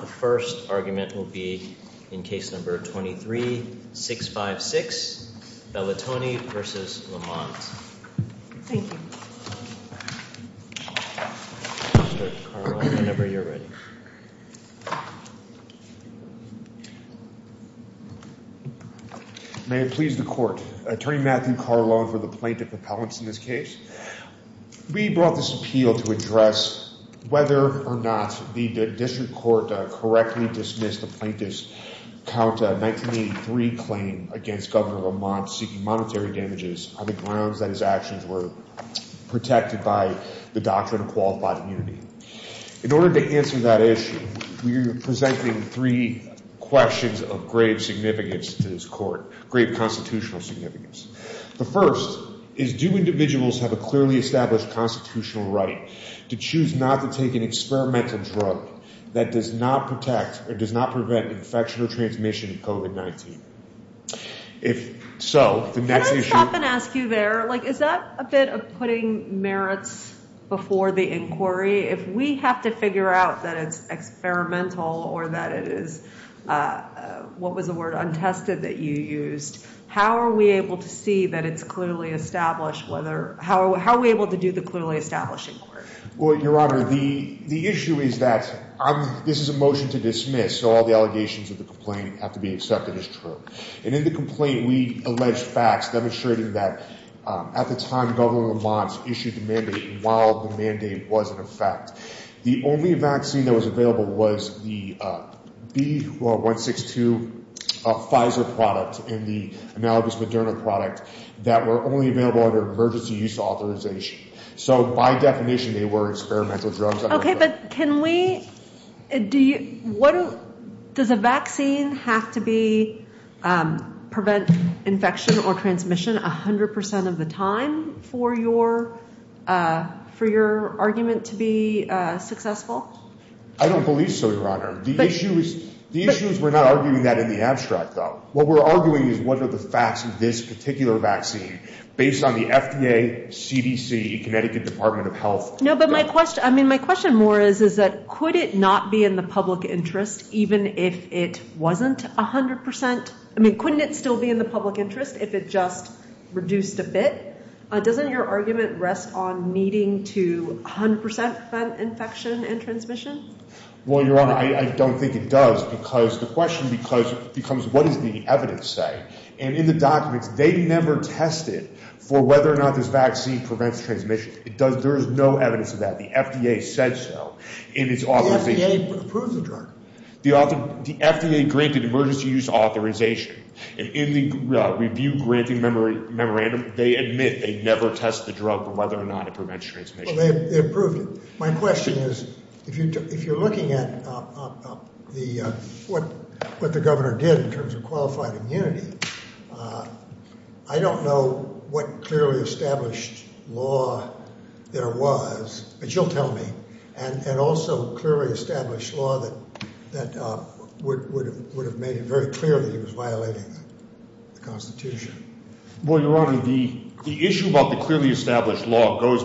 The first argument will be in case number 23-656, Belatoni v. Lamont. Thank you. Mr. Carlon, whenever you're ready. May it please the Court. Attorney Matthew Carlon for the Plaintiff Appellants in this case. We brought this appeal to address whether or not the district court correctly dismissed the plaintiff's 1983 claim against Governor Lamont seeking monetary damages on the grounds that his actions were protected by the doctrine of qualified immunity. In order to answer that issue, we are presenting three questions of grave significance to this court, grave constitutional significance. The first is, do individuals have a clearly established constitutional right to choose not to take an experimental drug that does not protect or does not prevent infection or transmission of COVID-19? If so, the next issue... Can I stop and ask you there, like, is that a bit of putting merits before the inquiry? If we have to figure out that it's experimental or that it is, what was the word, untested that you used, how are we able to see that it's clearly established? How are we able to do the clearly established inquiry? Well, Your Honor, the issue is that this is a motion to dismiss, so all the allegations of the complaint have to be accepted as true. And in the complaint, we allege facts demonstrating that at the time Governor Lamont issued the mandate and while the mandate was in effect, the only vaccine that was available was the B162 Pfizer product and the analogous Moderna product that were only available under emergency use authorization. So by definition, they were experimental drugs. Okay, but can we... Does a vaccine have to prevent infection or transmission 100% of the time for your argument to be successful? I don't believe so, Your Honor. The issue is we're not arguing that in the abstract, though. What we're arguing is what are the facts of this particular vaccine based on the FDA, CDC, Connecticut Department of Health? No, but my question, I mean, my question more is, is that could it not be in the public interest even if it wasn't 100%? I mean, couldn't it still be in the public interest if it just reduced a bit? Doesn't your argument rest on needing to 100% prevent infection and transmission? Well, Your Honor, I don't think it does because the question becomes what does the evidence say? And in the documents, they never tested for whether or not this vaccine prevents transmission. There is no evidence of that. The FDA said so in its authorization. The FDA approved the drug. The FDA granted emergency use authorization. And in the review granting memorandum, they admit they never tested the drug for whether or not it prevents transmission. Well, they approved it. My question is if you're looking at what the governor did in terms of qualified immunity, I don't know what clearly established law there was, but you'll tell me, and also clearly established law that would have made it very clear that he was violating the Constitution. Well, Your Honor, the issue about the clearly established law goes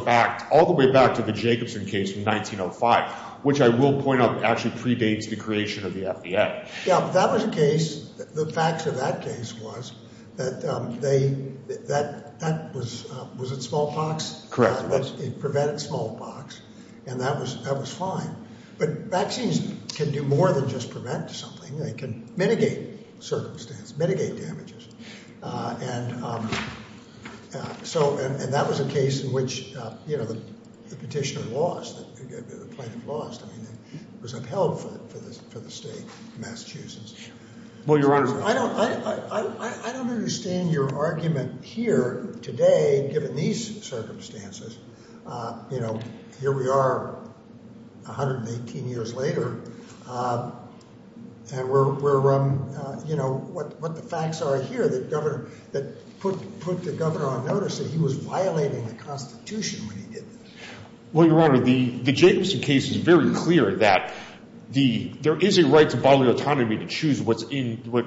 all the way back to the Jacobson case in 1905, which I will point out actually predates the creation of the FDA. Yeah, but that was a case. The facts of that case was that they – that was – was it smallpox? Correct. It prevented smallpox, and that was fine. But vaccines can do more than just prevent something. They can mitigate circumstance, mitigate damages. And so – and that was a case in which, you know, the petitioner lost, the plaintiff lost. I mean, it was upheld for the state of Massachusetts. Well, Your Honor. I don't – I don't understand your argument here today, given these circumstances. You know, here we are 118 years later, and we're – you know, what the facts are here that put the governor on notice that he was violating the Constitution when he did this. Well, Your Honor, the Jacobson case is very clear that there is a right to bodily autonomy to choose what an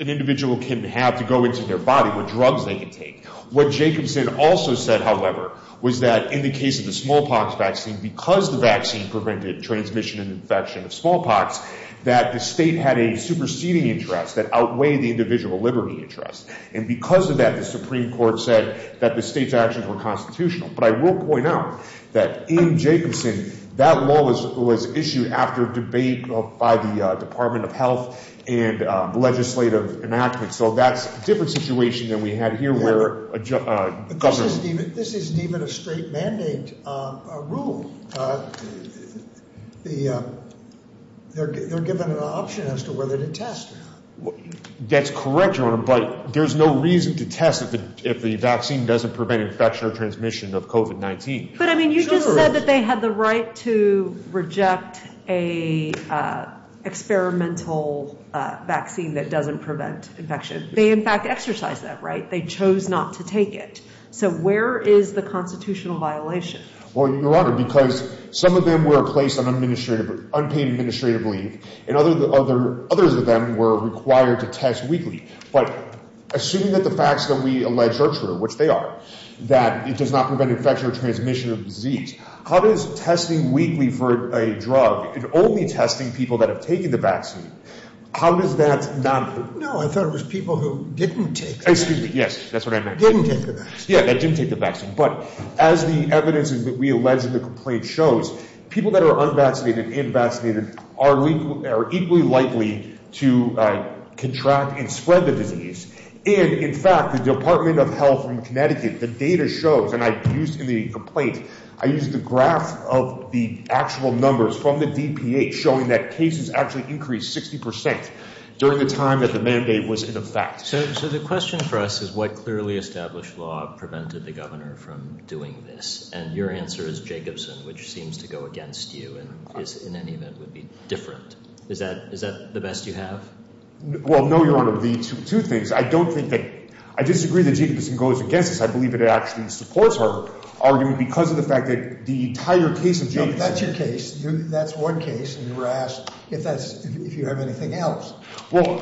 individual can have to go into their body, what drugs they can take. What Jacobson also said, however, was that in the case of the smallpox vaccine, because the vaccine prevented transmission and infection of smallpox, that the state had a superseding interest that outweighed the individual liberty interest. And because of that, the Supreme Court said that the state's actions were constitutional. But I will point out that in Jacobson, that law was issued after debate by the Department of Health and legislative enactments. So that's a different situation than we had here where a governor – This isn't even a straight mandate rule. They're given an option as to whether to test. That's correct, Your Honor, but there's no reason to test if the vaccine doesn't prevent infection or transmission of COVID-19. But, I mean, you just said that they had the right to reject an experimental vaccine that doesn't prevent infection. They, in fact, exercised that right. They chose not to take it. So where is the constitutional violation? Well, Your Honor, because some of them were placed on unpaid administrative leave, and others of them were required to test weekly. But assuming that the facts that we allege are true, which they are, that it does not prevent infection or transmission of the disease, how does testing weekly for a drug and only testing people that have taken the vaccine, how does that not – No, I thought it was people who didn't take the vaccine. Excuse me. Yes, that's what I meant. Didn't take the vaccine. Yeah, that didn't take the vaccine. But as the evidence that we allege in the complaint shows, people that are unvaccinated and vaccinated are equally likely to contract and spread the disease. And, in fact, the Department of Health from Connecticut, the data shows, and I used in the complaint, I used the graph of the actual numbers from the DPA showing that cases actually increased 60 percent during the time that the mandate was in effect. So the question for us is what clearly established law prevented the governor from doing this? And your answer is Jacobson, which seems to go against you and in any event would be different. Well, no, Your Honor. The two things. I don't think that – I disagree that Jacobson goes against this. I believe it actually supports our argument because of the fact that the entire case of Jacobson – That's your case. That's one case, and you were asked if that's – if you have anything else. Well,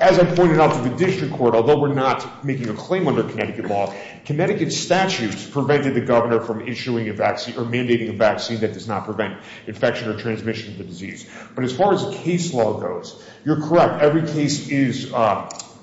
as I pointed out to the district court, although we're not making a claim under Connecticut law, Connecticut statutes prevented the governor from issuing a vaccine or mandating a vaccine that does not prevent infection or transmission of the disease. But as far as the case law goes, you're correct. Every case is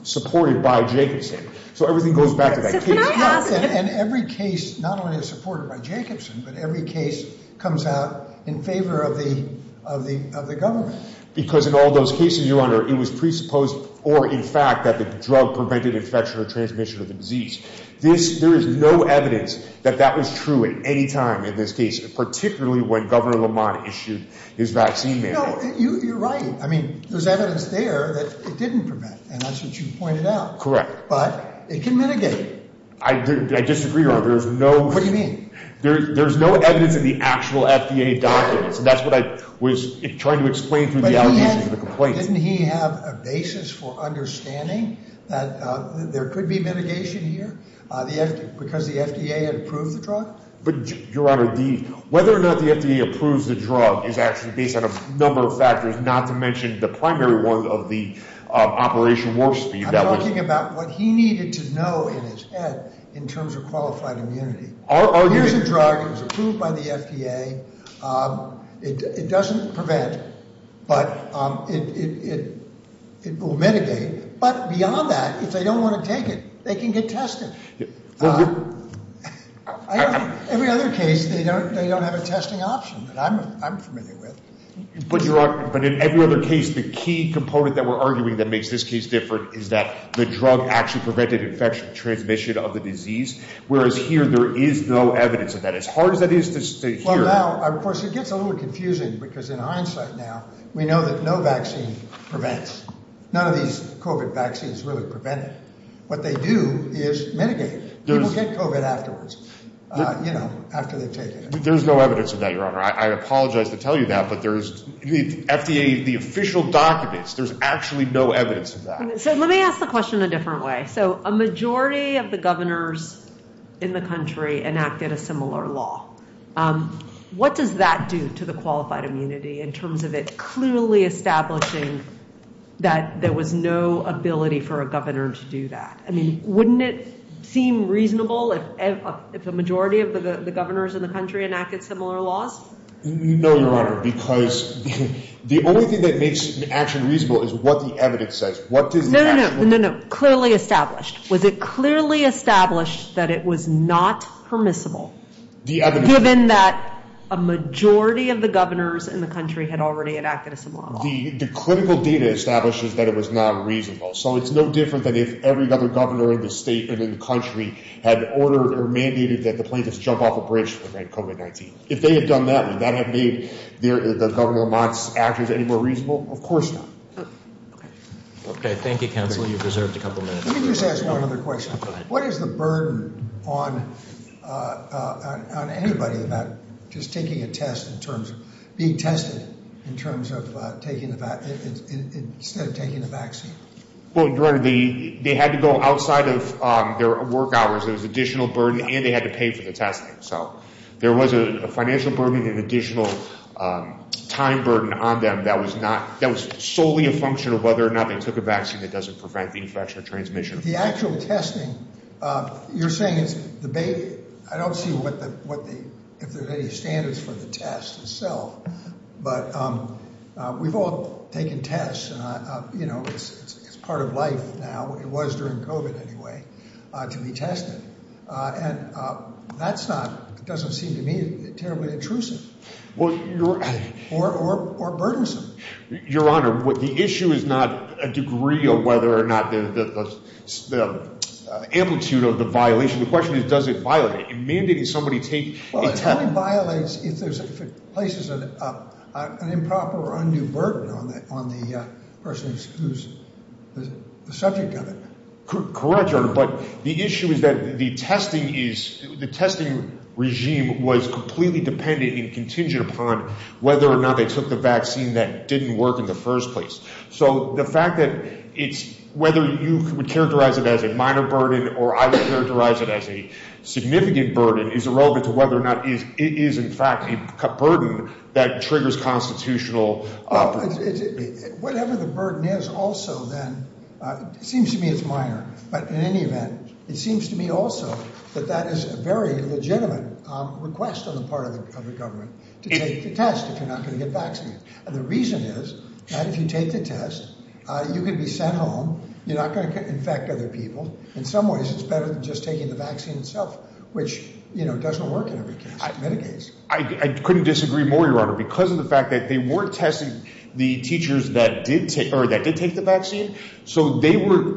supported by Jacobson, so everything goes back to that case. And every case not only is supported by Jacobson, but every case comes out in favor of the government. Because in all those cases, Your Honor, it was presupposed or in fact that the drug prevented infection or transmission of the disease. There is no evidence that that was true at any time in this case, particularly when Governor Lamont issued his vaccine mandate. No, you're right. I mean, there's evidence there that it didn't prevent, and that's what you pointed out. Correct. But it can mitigate. I disagree, Your Honor. There's no – What do you mean? There's no evidence in the actual FDA documents, and that's what I was trying to explain through the allegations and the complaints. But didn't he have a basis for understanding that there could be mitigation here because the FDA had approved the drug? But, Your Honor, whether or not the FDA approves the drug is actually based on a number of factors, not to mention the primary one of the Operation Warp Speed. I'm talking about what he needed to know in his head in terms of qualified immunity. Here's a drug that was approved by the FDA. It doesn't prevent, but it will mitigate. But beyond that, if they don't want to take it, they can get tested. Every other case, they don't have a testing option that I'm familiar with. But, Your Honor, in every other case, the key component that we're arguing that makes this case different is that the drug actually prevented infection, transmission of the disease, whereas here there is no evidence of that. As hard as that is to hear— Well, now, of course, it gets a little confusing because in hindsight now, we know that no vaccine prevents. None of these COVID vaccines really prevent it. What they do is mitigate. People get COVID afterwards, you know, after they've taken it. There's no evidence of that, Your Honor. I apologize to tell you that, but there's—the FDA, the official documents, there's actually no evidence of that. So let me ask the question a different way. So a majority of the governors in the country enacted a similar law. What does that do to the qualified immunity in terms of it clearly establishing that there was no ability for a governor to do that? I mean, wouldn't it seem reasonable if a majority of the governors in the country enacted similar laws? No, Your Honor, because the only thing that makes an action reasonable is what the evidence says. No, no, no. Clearly established. Was it clearly established that it was not permissible given that a majority of the governors in the country had already enacted a similar law? The clinical data establishes that it was not reasonable. So it's no different than if every other governor in the state and in the country had ordered or mandated that the plaintiffs jump off a bridge to prevent COVID-19. If they had done that, would that have made the Governor Mott's actions any more reasonable? Of course not. Okay. Thank you, counsel. You've reserved a couple minutes. Let me just ask one other question. Go ahead. What is the burden on anybody about just taking a test in terms of being tested instead of taking the vaccine? Well, Your Honor, they had to go outside of their work hours. There was additional burden, and they had to pay for the testing. So there was a financial burden and an additional time burden on them that was solely a function of whether or not they took a vaccine that doesn't prevent the infection or transmission. The actual testing, you're saying it's the baby. I don't see if there's any standards for the test itself. But we've all taken tests, and it's part of life now. It was during COVID, anyway, to be tested. And that doesn't seem to me terribly intrusive or burdensome. Your Honor, the issue is not a degree of whether or not the amplitude of the violation. The question is, does it violate it? Mandating somebody take a test. Well, it only violates if it places an improper or undue burden on the person who's the subject of it. Correct, Your Honor. But the issue is that the testing regime was completely dependent and contingent upon whether or not they took the vaccine that didn't work in the first place. So the fact that it's whether you would characterize it as a minor burden or I would characterize it as a significant burden is irrelevant to whether or not it is, in fact, a burden that triggers constitutional. Whatever the burden is also, then, it seems to me it's minor. But in any event, it seems to me also that that is a very legitimate request on the part of the government to take the test if you're not going to get vaccinated. And the reason is that if you take the test, you can be sent home. You're not going to infect other people. In some ways, it's better than just taking the vaccine itself, which doesn't work in every case. I couldn't disagree more, Your Honor, because of the fact that they weren't testing the teachers that did take the vaccine. So they were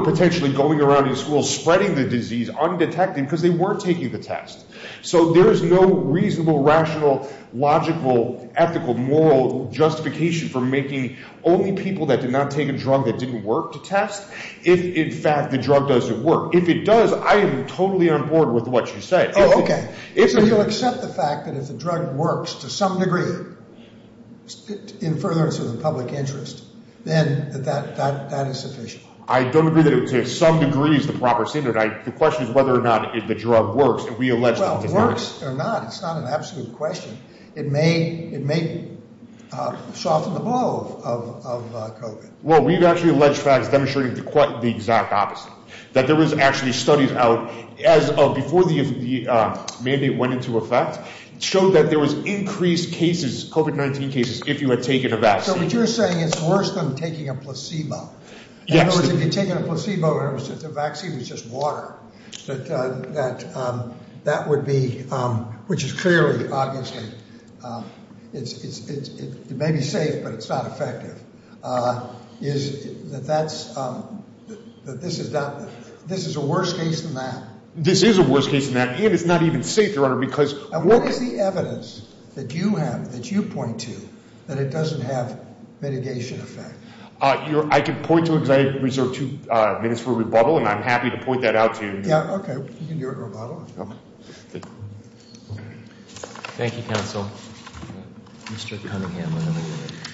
potentially going around in schools spreading the disease undetected because they were taking the test. So there is no reasonable, rational, logical, ethical, moral justification for making only people that did not take a drug that didn't work to test if, in fact, the drug doesn't work. If it does, I am totally on board with what you said. Oh, okay. So you'll accept the fact that if the drug works to some degree in furtherance of the public interest, then that is sufficient? I don't agree that to some degree is the proper standard. The question is whether or not the drug works. Well, if it works or not, it's not an absolute question. It may soften the blow of COVID. Well, we've actually alleged facts demonstrating quite the exact opposite. That there was actually studies out before the mandate went into effect showed that there was increased cases, COVID-19 cases, if you had taken a vaccine. So what you're saying is it's worse than taking a placebo? Yes. In other words, if you had taken a placebo and the vaccine was just water, that would be, which is clearly, obviously, it may be safe, but it's not effective. Is that this is a worse case than that? This is a worse case than that, and it's not even safe, Your Honor, because- What is the evidence that you have, that you point to, that it doesn't have mitigation effect? I can point to it because I reserve two minutes for rebuttal, and I'm happy to point that out to you. Yeah, okay. You can do a rebuttal. Okay. Thank you, counsel. Mr. Cunningham. Thank you, Your Honor.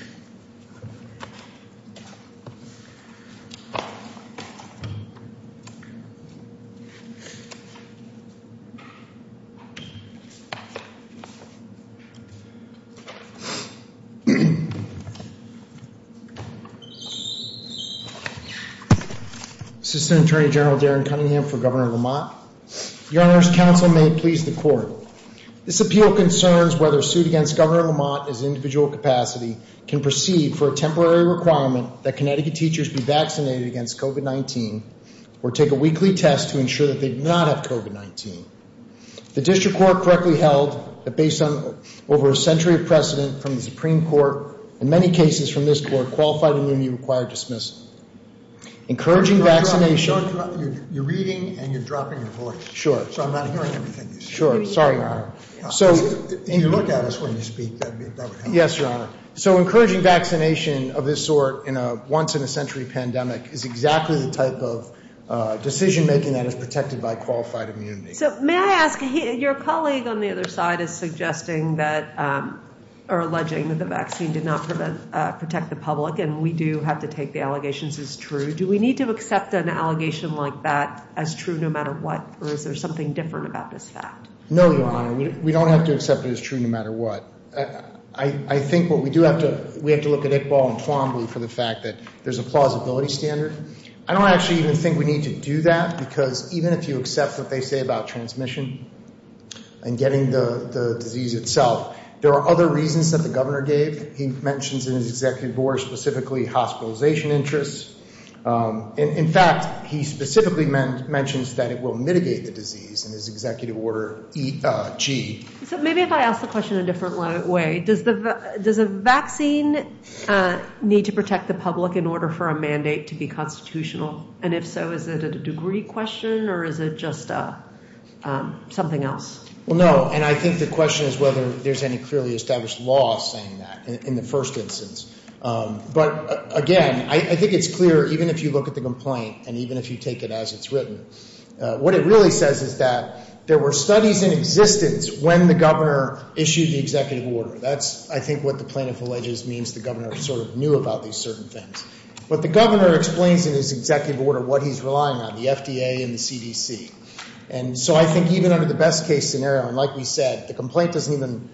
Assistant Attorney General Darren Cunningham for Governor Lamont. Your Honor, counsel may please the court. This appeal concerns whether a suit against Governor Lamont as an individual capacity can proceed for a temporary requirement that Connecticut teachers be vaccinated against COVID-19 or take a weekly test to ensure that they do not have COVID-19. The district court correctly held that based on over a century of precedent from the Supreme Court and many cases from this court, qualified immunity required dismissal. Encouraging vaccination- You're reading and you're dropping your voice. Sure. So I'm not hearing everything you're saying. Sure. Sorry, Your Honor. If you look at us when you speak, that would help. Yes, Your Honor. So encouraging vaccination of this sort in a once-in-a-century pandemic is exactly the type of decision-making that is protected by qualified immunity. So may I ask, your colleague on the other side is suggesting that, or alleging that the vaccine did not protect the public, and we do have to take the allegations as true. Do we need to accept an allegation like that as true no matter what, or is there something different about this fact? No, Your Honor. We don't have to accept it as true no matter what. I think what we do have to, we have to look at Iqbal and Twombly for the fact that there's a plausibility standard. I don't actually even think we need to do that because even if you accept what they say about transmission and getting the disease itself, there are other reasons that the governor gave. He mentions in his executive order specifically hospitalization interests. In fact, he specifically mentions that it will mitigate the disease in his executive order G. So maybe if I ask the question a different way, does a vaccine need to protect the public in order for a mandate to be constitutional? And if so, is it a degree question or is it just something else? Well, no, and I think the question is whether there's any clearly established law saying that in the first instance. But again, I think it's clear even if you look at the complaint and even if you take it as it's written, what it really says is that there were studies in existence when the governor issued the executive order. That's, I think, what the plaintiff alleges means the governor sort of knew about these certain things. But the governor explains in his executive order what he's relying on, the FDA and the CDC. And so I think even under the best case scenario, and like we said, the complaint doesn't even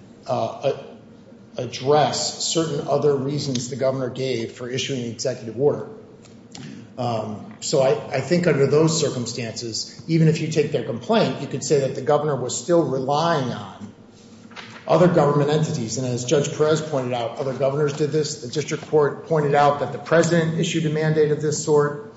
address certain other reasons the governor gave for issuing the executive order. So I think under those circumstances, even if you take their complaint, you could say that the governor was still relying on other government entities. And as Judge Perez pointed out, other governors did this. The district court pointed out that the president issued a mandate of this sort.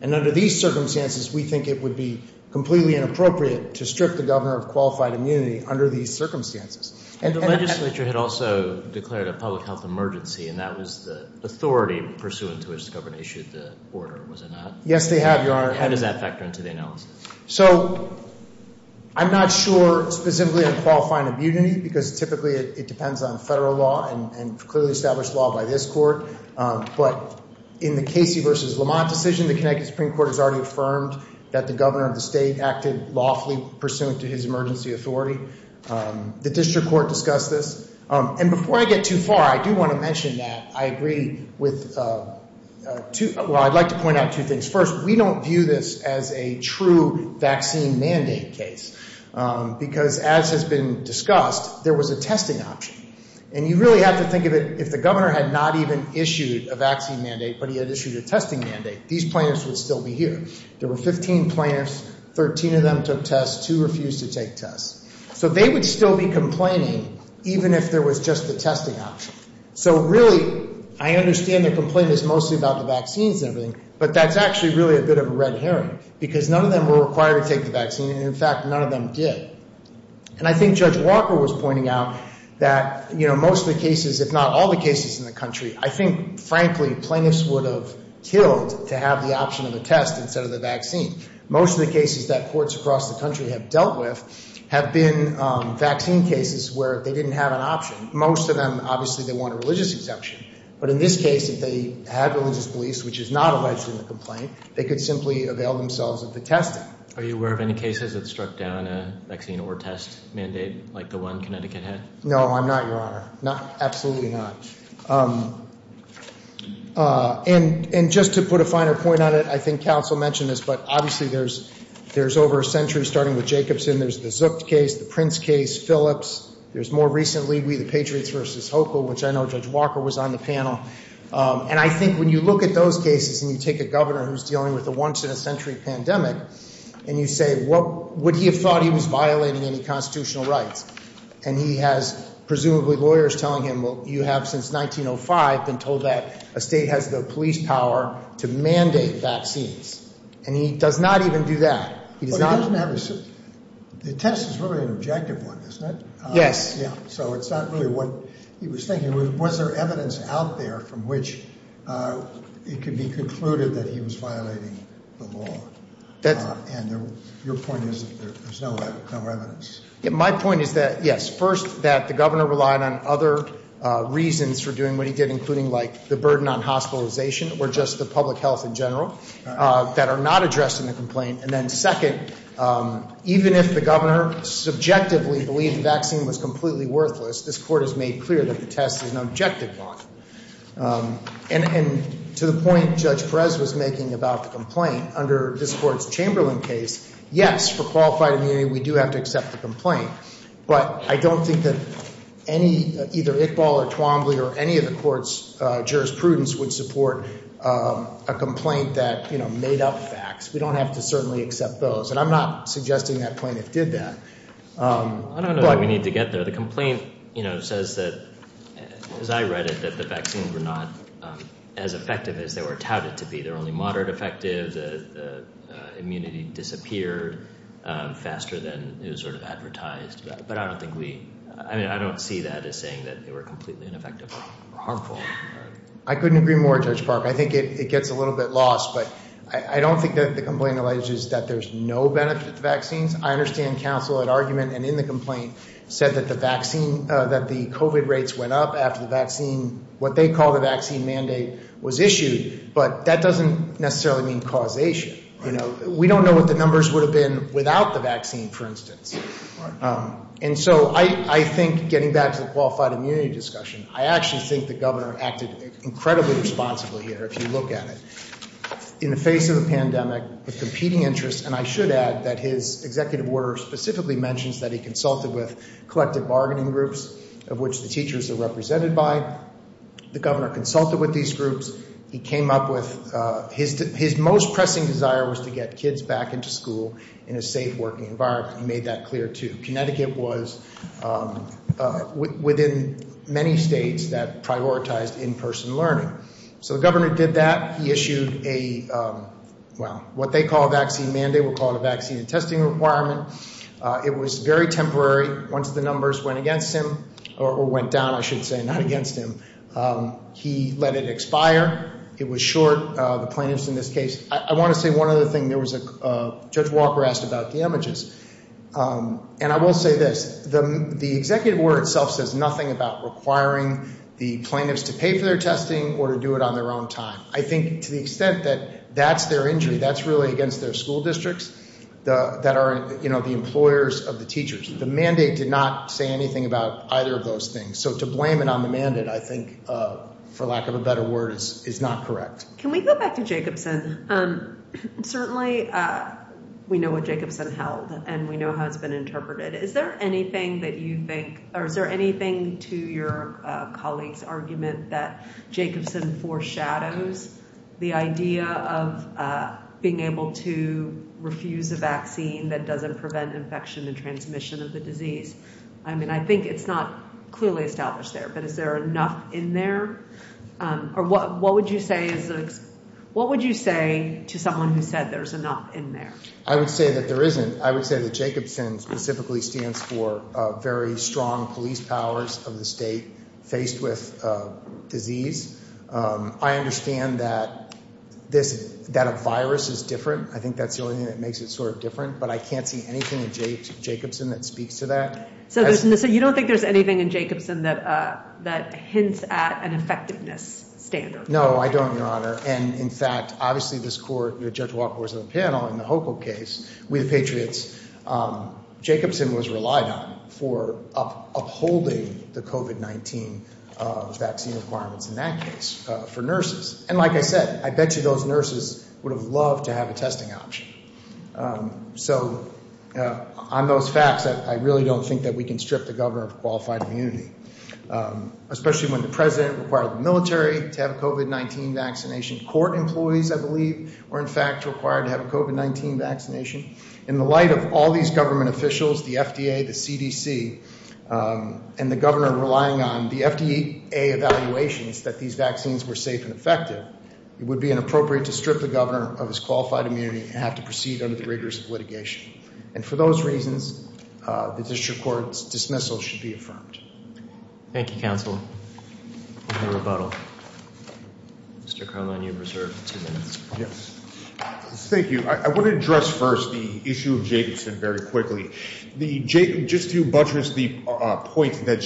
And under these circumstances, we think it would be completely inappropriate to strip the governor of qualified immunity under these circumstances. And the legislature had also declared a public health emergency, and that was the authority pursuant to which the governor issued the order, was it not? Yes, they have, Your Honor. And does that factor into the analysis? So I'm not sure specifically on qualifying immunity because typically it depends on federal law and clearly established law by this court. But in the Casey v. Lamont decision, the Connecticut Supreme Court has already affirmed that the governor of the state acted lawfully pursuant to his emergency authority. The district court discussed this. And before I get too far, I do want to mention that I agree with two – well, I'd like to point out two things. First, we don't view this as a true vaccine mandate case because, as has been discussed, there was a testing option. And you really have to think of it, if the governor had not even issued a vaccine mandate but he had issued a testing mandate, these plaintiffs would still be here. There were 15 plaintiffs. Thirteen of them took tests. Two refused to take tests. So they would still be complaining even if there was just the testing option. So really, I understand the complaint is mostly about the vaccines and everything, but that's actually really a bit of a red herring because none of them were required to take the vaccine. And, in fact, none of them did. And I think Judge Walker was pointing out that most of the cases, if not all the cases in the country, I think, frankly, plaintiffs would have killed to have the option of a test instead of the vaccine. Most of the cases that courts across the country have dealt with have been vaccine cases where they didn't have an option. Most of them, obviously, they want a religious exemption. But in this case, if they had religious beliefs, which is not alleged in the complaint, they could simply avail themselves of the testing. Are you aware of any cases that struck down a vaccine or test mandate like the one Connecticut had? No, I'm not, Your Honor. Absolutely not. And just to put a finer point on it, I think counsel mentioned this, but obviously there's over a century starting with Jacobson. There's the Zucht case, the Prince case, Phillips. There's more recently the Patriots v. Hochul, which I know Judge Walker was on the panel. And I think when you look at those cases and you take a governor who's dealing with a once-in-a-century pandemic and you say, would he have thought he was violating any constitutional rights? And he has presumably lawyers telling him, well, you have since 1905 been told that a state has the police power to mandate vaccines. And he does not even do that. The test is really an objective one, isn't it? Yes. So it's not really what he was thinking. Was there evidence out there from which it could be concluded that he was violating the law? And your point is that there's no evidence. My point is that, yes, first, that the governor relied on other reasons for doing what he did, including, like, the burden on hospitalization or just the public health in general that are not addressed in the complaint. And then second, even if the governor subjectively believed the vaccine was completely worthless, this court has made clear that the test is an objective one. And to the point Judge Perez was making about the complaint, under this court's Chamberlain case, yes, for qualified immunity, we do have to accept the complaint. But I don't think that any, either Iqbal or Twombly or any of the court's jurisprudence would support a complaint that, you know, made up facts. We don't have to certainly accept those. And I'm not suggesting that plaintiff did that. I don't know that we need to get there. The complaint, you know, says that, as I read it, that the vaccines were not as effective as they were touted to be. They were only moderate effective. The immunity disappeared faster than it was sort of advertised. But I don't think we – I mean, I don't see that as saying that they were completely ineffective or harmful. I couldn't agree more, Judge Park. I think it gets a little bit lost. But I don't think that the complaint alleges that there's no benefit to vaccines. I understand counsel at argument and in the complaint said that the vaccine – that the COVID rates went up after the vaccine, what they call the vaccine mandate, was issued. But that doesn't necessarily mean causation. You know, we don't know what the numbers would have been without the vaccine, for instance. And so I think getting back to the qualified immunity discussion, I actually think the governor acted incredibly responsibly here, if you look at it. In the face of a pandemic of competing interests, and I should add that his executive order specifically mentions that he consulted with collective bargaining groups, of which the teachers are represented by. The governor consulted with these groups. He came up with – his most pressing desire was to get kids back into school in a safe working environment. He made that clear, too. Connecticut was within many states that prioritized in-person learning. So the governor did that. He issued a – well, what they call a vaccine mandate. We'll call it a vaccine testing requirement. It was very temporary. Once the numbers went against him – or went down, I should say, not against him – he let it expire. It was short. The plaintiffs in this case – I want to say one other thing. Judge Walker asked about damages. And I will say this. The executive order itself says nothing about requiring the plaintiffs to pay for their testing or to do it on their own time. I think to the extent that that's their injury, that's really against their school districts that are the employers of the teachers. The mandate did not say anything about either of those things. So to blame it on the mandate, I think, for lack of a better word, is not correct. Can we go back to Jacobson? Certainly we know what Jacobson held, and we know how it's been interpreted. Is there anything that you think – or is there anything to your colleague's argument that Jacobson foreshadows the idea of being able to refuse a vaccine that doesn't prevent infection and transmission of the disease? I mean, I think it's not clearly established there. But is there enough in there? Or what would you say is – what would you say to someone who said there's enough in there? I would say that there isn't. I would say that Jacobson specifically stands for very strong police powers of the state faced with disease. I understand that this – that a virus is different. I think that's the only thing that makes it sort of different. But I can't see anything in Jacobson that speaks to that. So you don't think there's anything in Jacobson that hints at an effectiveness standard? No, I don't, Your Honor. And, in fact, obviously this court – Judge Walker was on the panel in the HOCO case with the Patriots. Jacobson was relied on for upholding the COVID-19 vaccine requirements in that case for nurses. And like I said, I bet you those nurses would have loved to have a testing option. So on those facts, I really don't think that we can strip the governor of qualified immunity, especially when the president required the military to have a COVID-19 vaccination. Court employees, I believe, were, in fact, required to have a COVID-19 vaccination. In the light of all these government officials, the FDA, the CDC, and the governor relying on the FDA evaluations that these vaccines were safe and effective, it would be inappropriate to strip the governor of his qualified immunity and have to proceed under the rigors of litigation. And for those reasons, the district court's dismissal should be affirmed. Thank you, counsel. No rebuttal. Mr. Carlin, you have reserved two minutes. Yes. Thank you. I want to address first the issue of Jacobson very quickly. Just to buttress the point that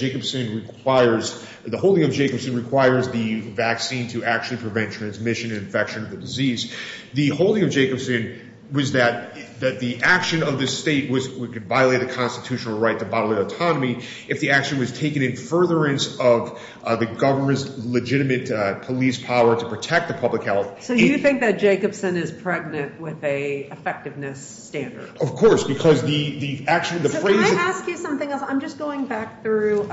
the holding of Jacobson requires the vaccine to actually prevent transmission and infection of the disease, the holding of Jacobson was that the action of the state could violate the constitutional right to bodily autonomy if the action was taken in furtherance of the government's legitimate police power to protect the public health. So you think that Jacobson is pregnant with an effectiveness standard? Of course, because the action, the phrase— So can I ask you something else? I'm just going back through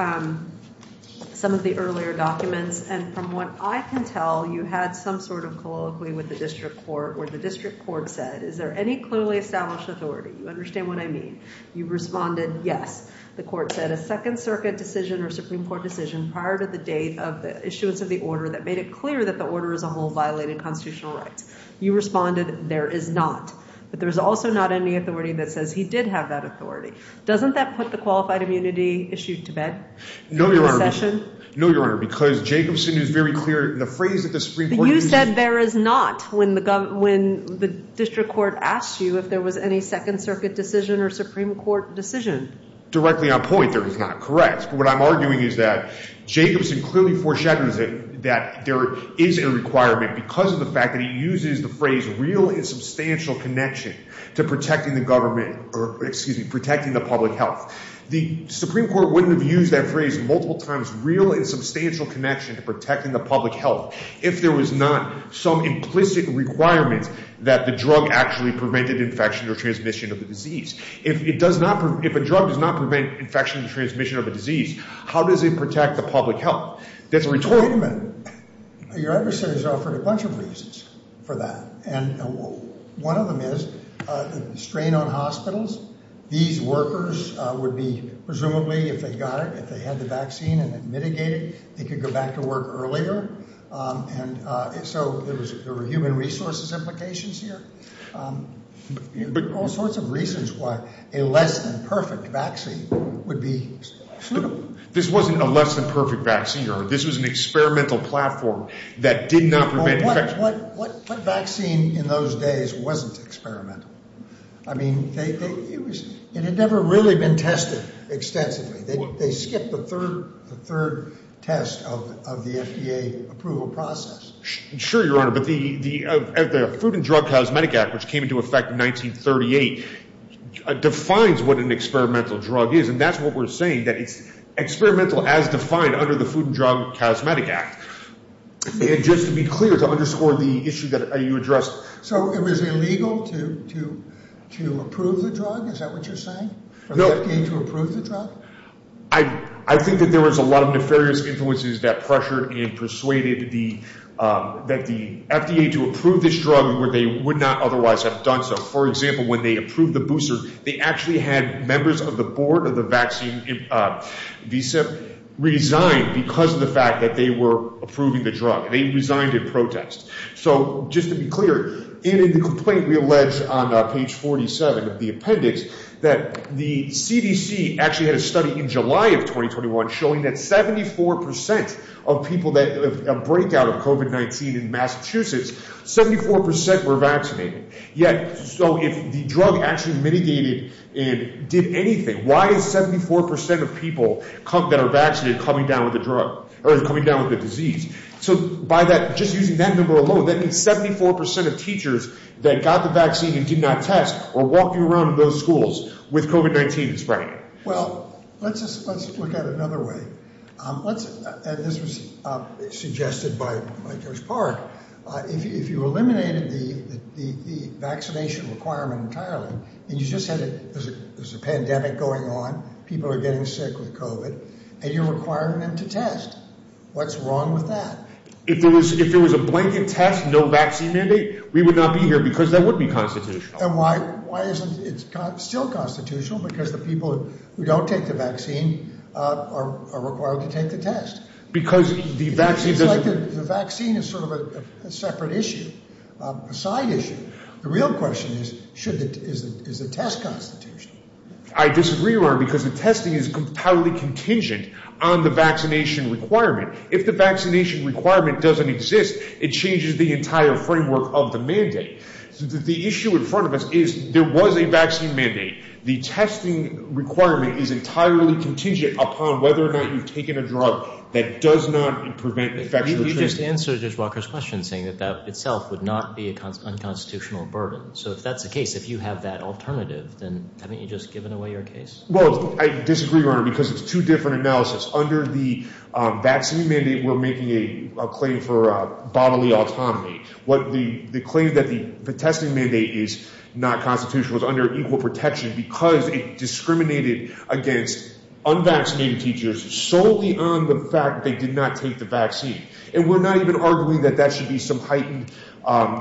some of the earlier documents. And from what I can tell, you had some sort of colloquy with the district court where the district court said, is there any clearly established authority? You understand what I mean. You responded, yes. The court said a Second Circuit decision or Supreme Court decision prior to the date of the issuance of the order that made it clear that the order as a whole violated constitutional rights. You responded, there is not. But there is also not any authority that says he did have that authority. Doesn't that put the qualified immunity issue to bed? No, Your Honor. No, Your Honor, because Jacobson is very clear in the phrase that the Supreme Court— But you said there is not when the district court asked you if there was any Second Circuit decision or Supreme Court decision. Directly on point, there is not. Correct. But what I'm arguing is that Jacobson clearly foreshadows that there is a requirement because of the fact that he uses the phrase real and substantial connection to protecting the government— or, excuse me, protecting the public health. The Supreme Court wouldn't have used that phrase multiple times, real and substantial connection to protecting the public health, if there was not some implicit requirement that the drug actually prevented infection or transmission of the disease. If a drug does not prevent infection or transmission of a disease, how does it protect the public health? That's a rhetorical— Wait a minute. Your adversary has offered a bunch of reasons for that. And one of them is the strain on hospitals. These workers would be—presumably, if they got it, if they had the vaccine and it mitigated, they could go back to work earlier. And so there were human resources implications here. All sorts of reasons why a less-than-perfect vaccine would be suitable. This wasn't a less-than-perfect vaccine, Your Honor. This was an experimental platform that did not prevent infection. What vaccine in those days wasn't experimental? I mean, it had never really been tested extensively. They skipped the third test of the FDA approval process. Sure, Your Honor. But the Food and Drug Cosmetic Act, which came into effect in 1938, defines what an experimental drug is. And that's what we're saying, that it's experimental as defined under the Food and Drug Cosmetic Act. And just to be clear, to underscore the issue that you addressed— So it was illegal to approve the drug? Is that what you're saying? No. For the FDA to approve the drug? I think that there was a lot of nefarious influences that pressured and persuaded the— that the FDA to approve this drug where they would not otherwise have done so. For example, when they approved the booster, they actually had members of the board of the vaccine visa resign because of the fact that they were approving the drug. They resigned in protest. So just to be clear, in the complaint we allege on page 47 of the appendix, that the CDC actually had a study in July of 2021 showing that 74 percent of people that have a breakout of COVID-19 in Massachusetts, 74 percent were vaccinated. Yet, so if the drug actually mitigated and did anything, why is 74 percent of people that are vaccinated coming down with the disease? So just using that number alone, that means 74 percent of teachers that got the vaccine and did not test are walking around in those schools with COVID-19 spreading. Well, let's look at it another way. This was suggested by George Park. If you eliminated the vaccination requirement entirely and you just said there's a pandemic going on, people are getting sick with COVID, and you're requiring them to test, what's wrong with that? If there was a blanket test, no vaccine mandate, we would not be here because that would be constitutional. And why isn't it still constitutional? Because the people who don't take the vaccine are required to take the test. Because the vaccine doesn't... It seems like the vaccine is sort of a separate issue, a side issue. The real question is, is the test constitutional? I disagree, Roy, because the testing is completely contingent on the vaccination requirement. If the vaccination requirement doesn't exist, it changes the entire framework of the mandate. The issue in front of us is there was a vaccine mandate. The testing requirement is entirely contingent upon whether or not you've taken a drug that does not prevent infection. You just answered Judge Walker's question, saying that that itself would not be an unconstitutional burden. So if that's the case, if you have that alternative, then haven't you just given away your case? Well, I disagree, Roy, because it's two different analysis. Under the vaccine mandate, we're making a claim for bodily autonomy. The claim that the testing mandate is not constitutional is under equal protection because it discriminated against unvaccinated teachers solely on the fact they did not take the vaccine. And we're not even arguing that that should be some heightened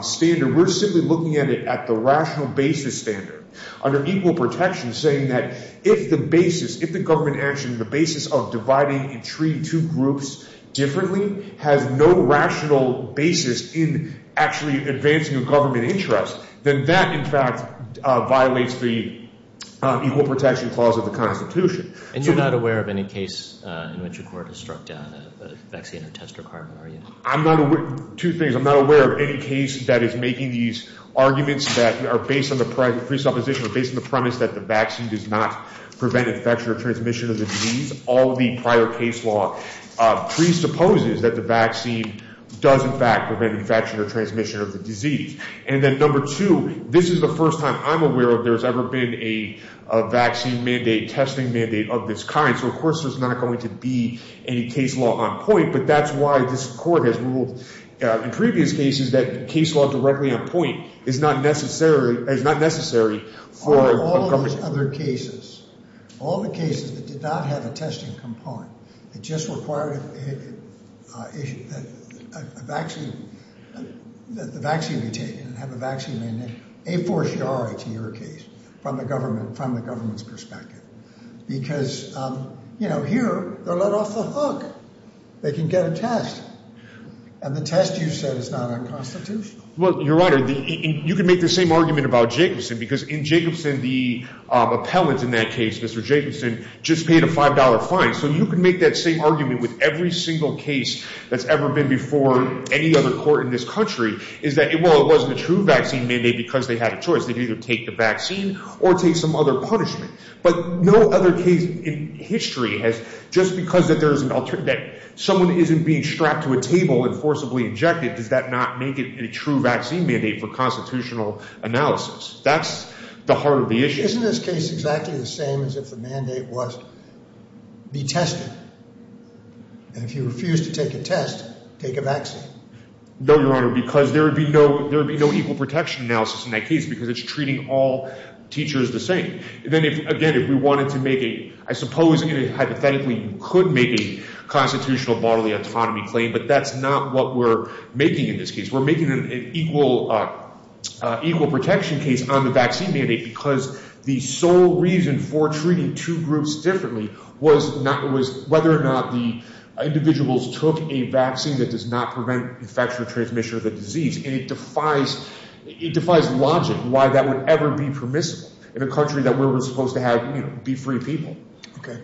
standard. We're simply looking at it at the rational basis standard. Under equal protection, saying that if the basis, if the government action, the basis of dividing and treating two groups differently has no rational basis in actually advancing a government interest, then that, in fact, violates the equal protection clause of the Constitution. And you're not aware of any case in which a court has struck down a vaccine or test requirement, are you? I'm not aware of two things. I'm not aware of any case that is making these arguments that are based on the presupposition or based on the premise that the vaccine does not prevent infection or transmission of the disease. All the prior case law presupposes that the vaccine does, in fact, prevent infection or transmission of the disease. And then number two, this is the first time I'm aware of there's ever been a vaccine mandate, testing mandate of this kind. So, of course, there's not going to be any case law on point. But that's why this court has ruled in previous cases that case law directly on point is not necessary. It's not necessary for all those other cases, all the cases that did not have a testing component. It just required a vaccine, that the vaccine be taken and have a vaccine mandate a fortiori to your case from the government, because, you know, here they're let off the hook. They can get a test. And the test, you said, is not unconstitutional. Well, Your Honor, you can make the same argument about Jacobson, because in Jacobson, the appellant in that case, Mr. Jacobson, just paid a five dollar fine. So you can make that same argument with every single case that's ever been before any other court in this country is that it wasn't a true vaccine mandate because they had a choice. They'd either take the vaccine or take some other punishment. But no other case in history has just because that there is an alternate that someone isn't being strapped to a table and forcibly injected. Does that not make it a true vaccine mandate for constitutional analysis? That's the heart of the issue. Isn't this case exactly the same as if the mandate was be tested? And if you refuse to take a test, take a vaccine? No, Your Honor, because there would be no there would be no equal protection analysis in that case because it's treating all teachers the same. Then again, if we wanted to make a I suppose hypothetically, you could make a constitutional bodily autonomy claim. But that's not what we're making in this case. We're making an equal equal protection case on the vaccine mandate because the sole reason for treating two groups differently was not was whether or not the individuals took a vaccine that does not prevent infection or transmission of the disease. And it defies it defies logic why that would ever be permissible in a country that we were supposed to have be free people. OK,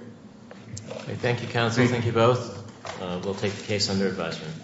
thank you, counsel. Thank you both. We'll take the case under advisement.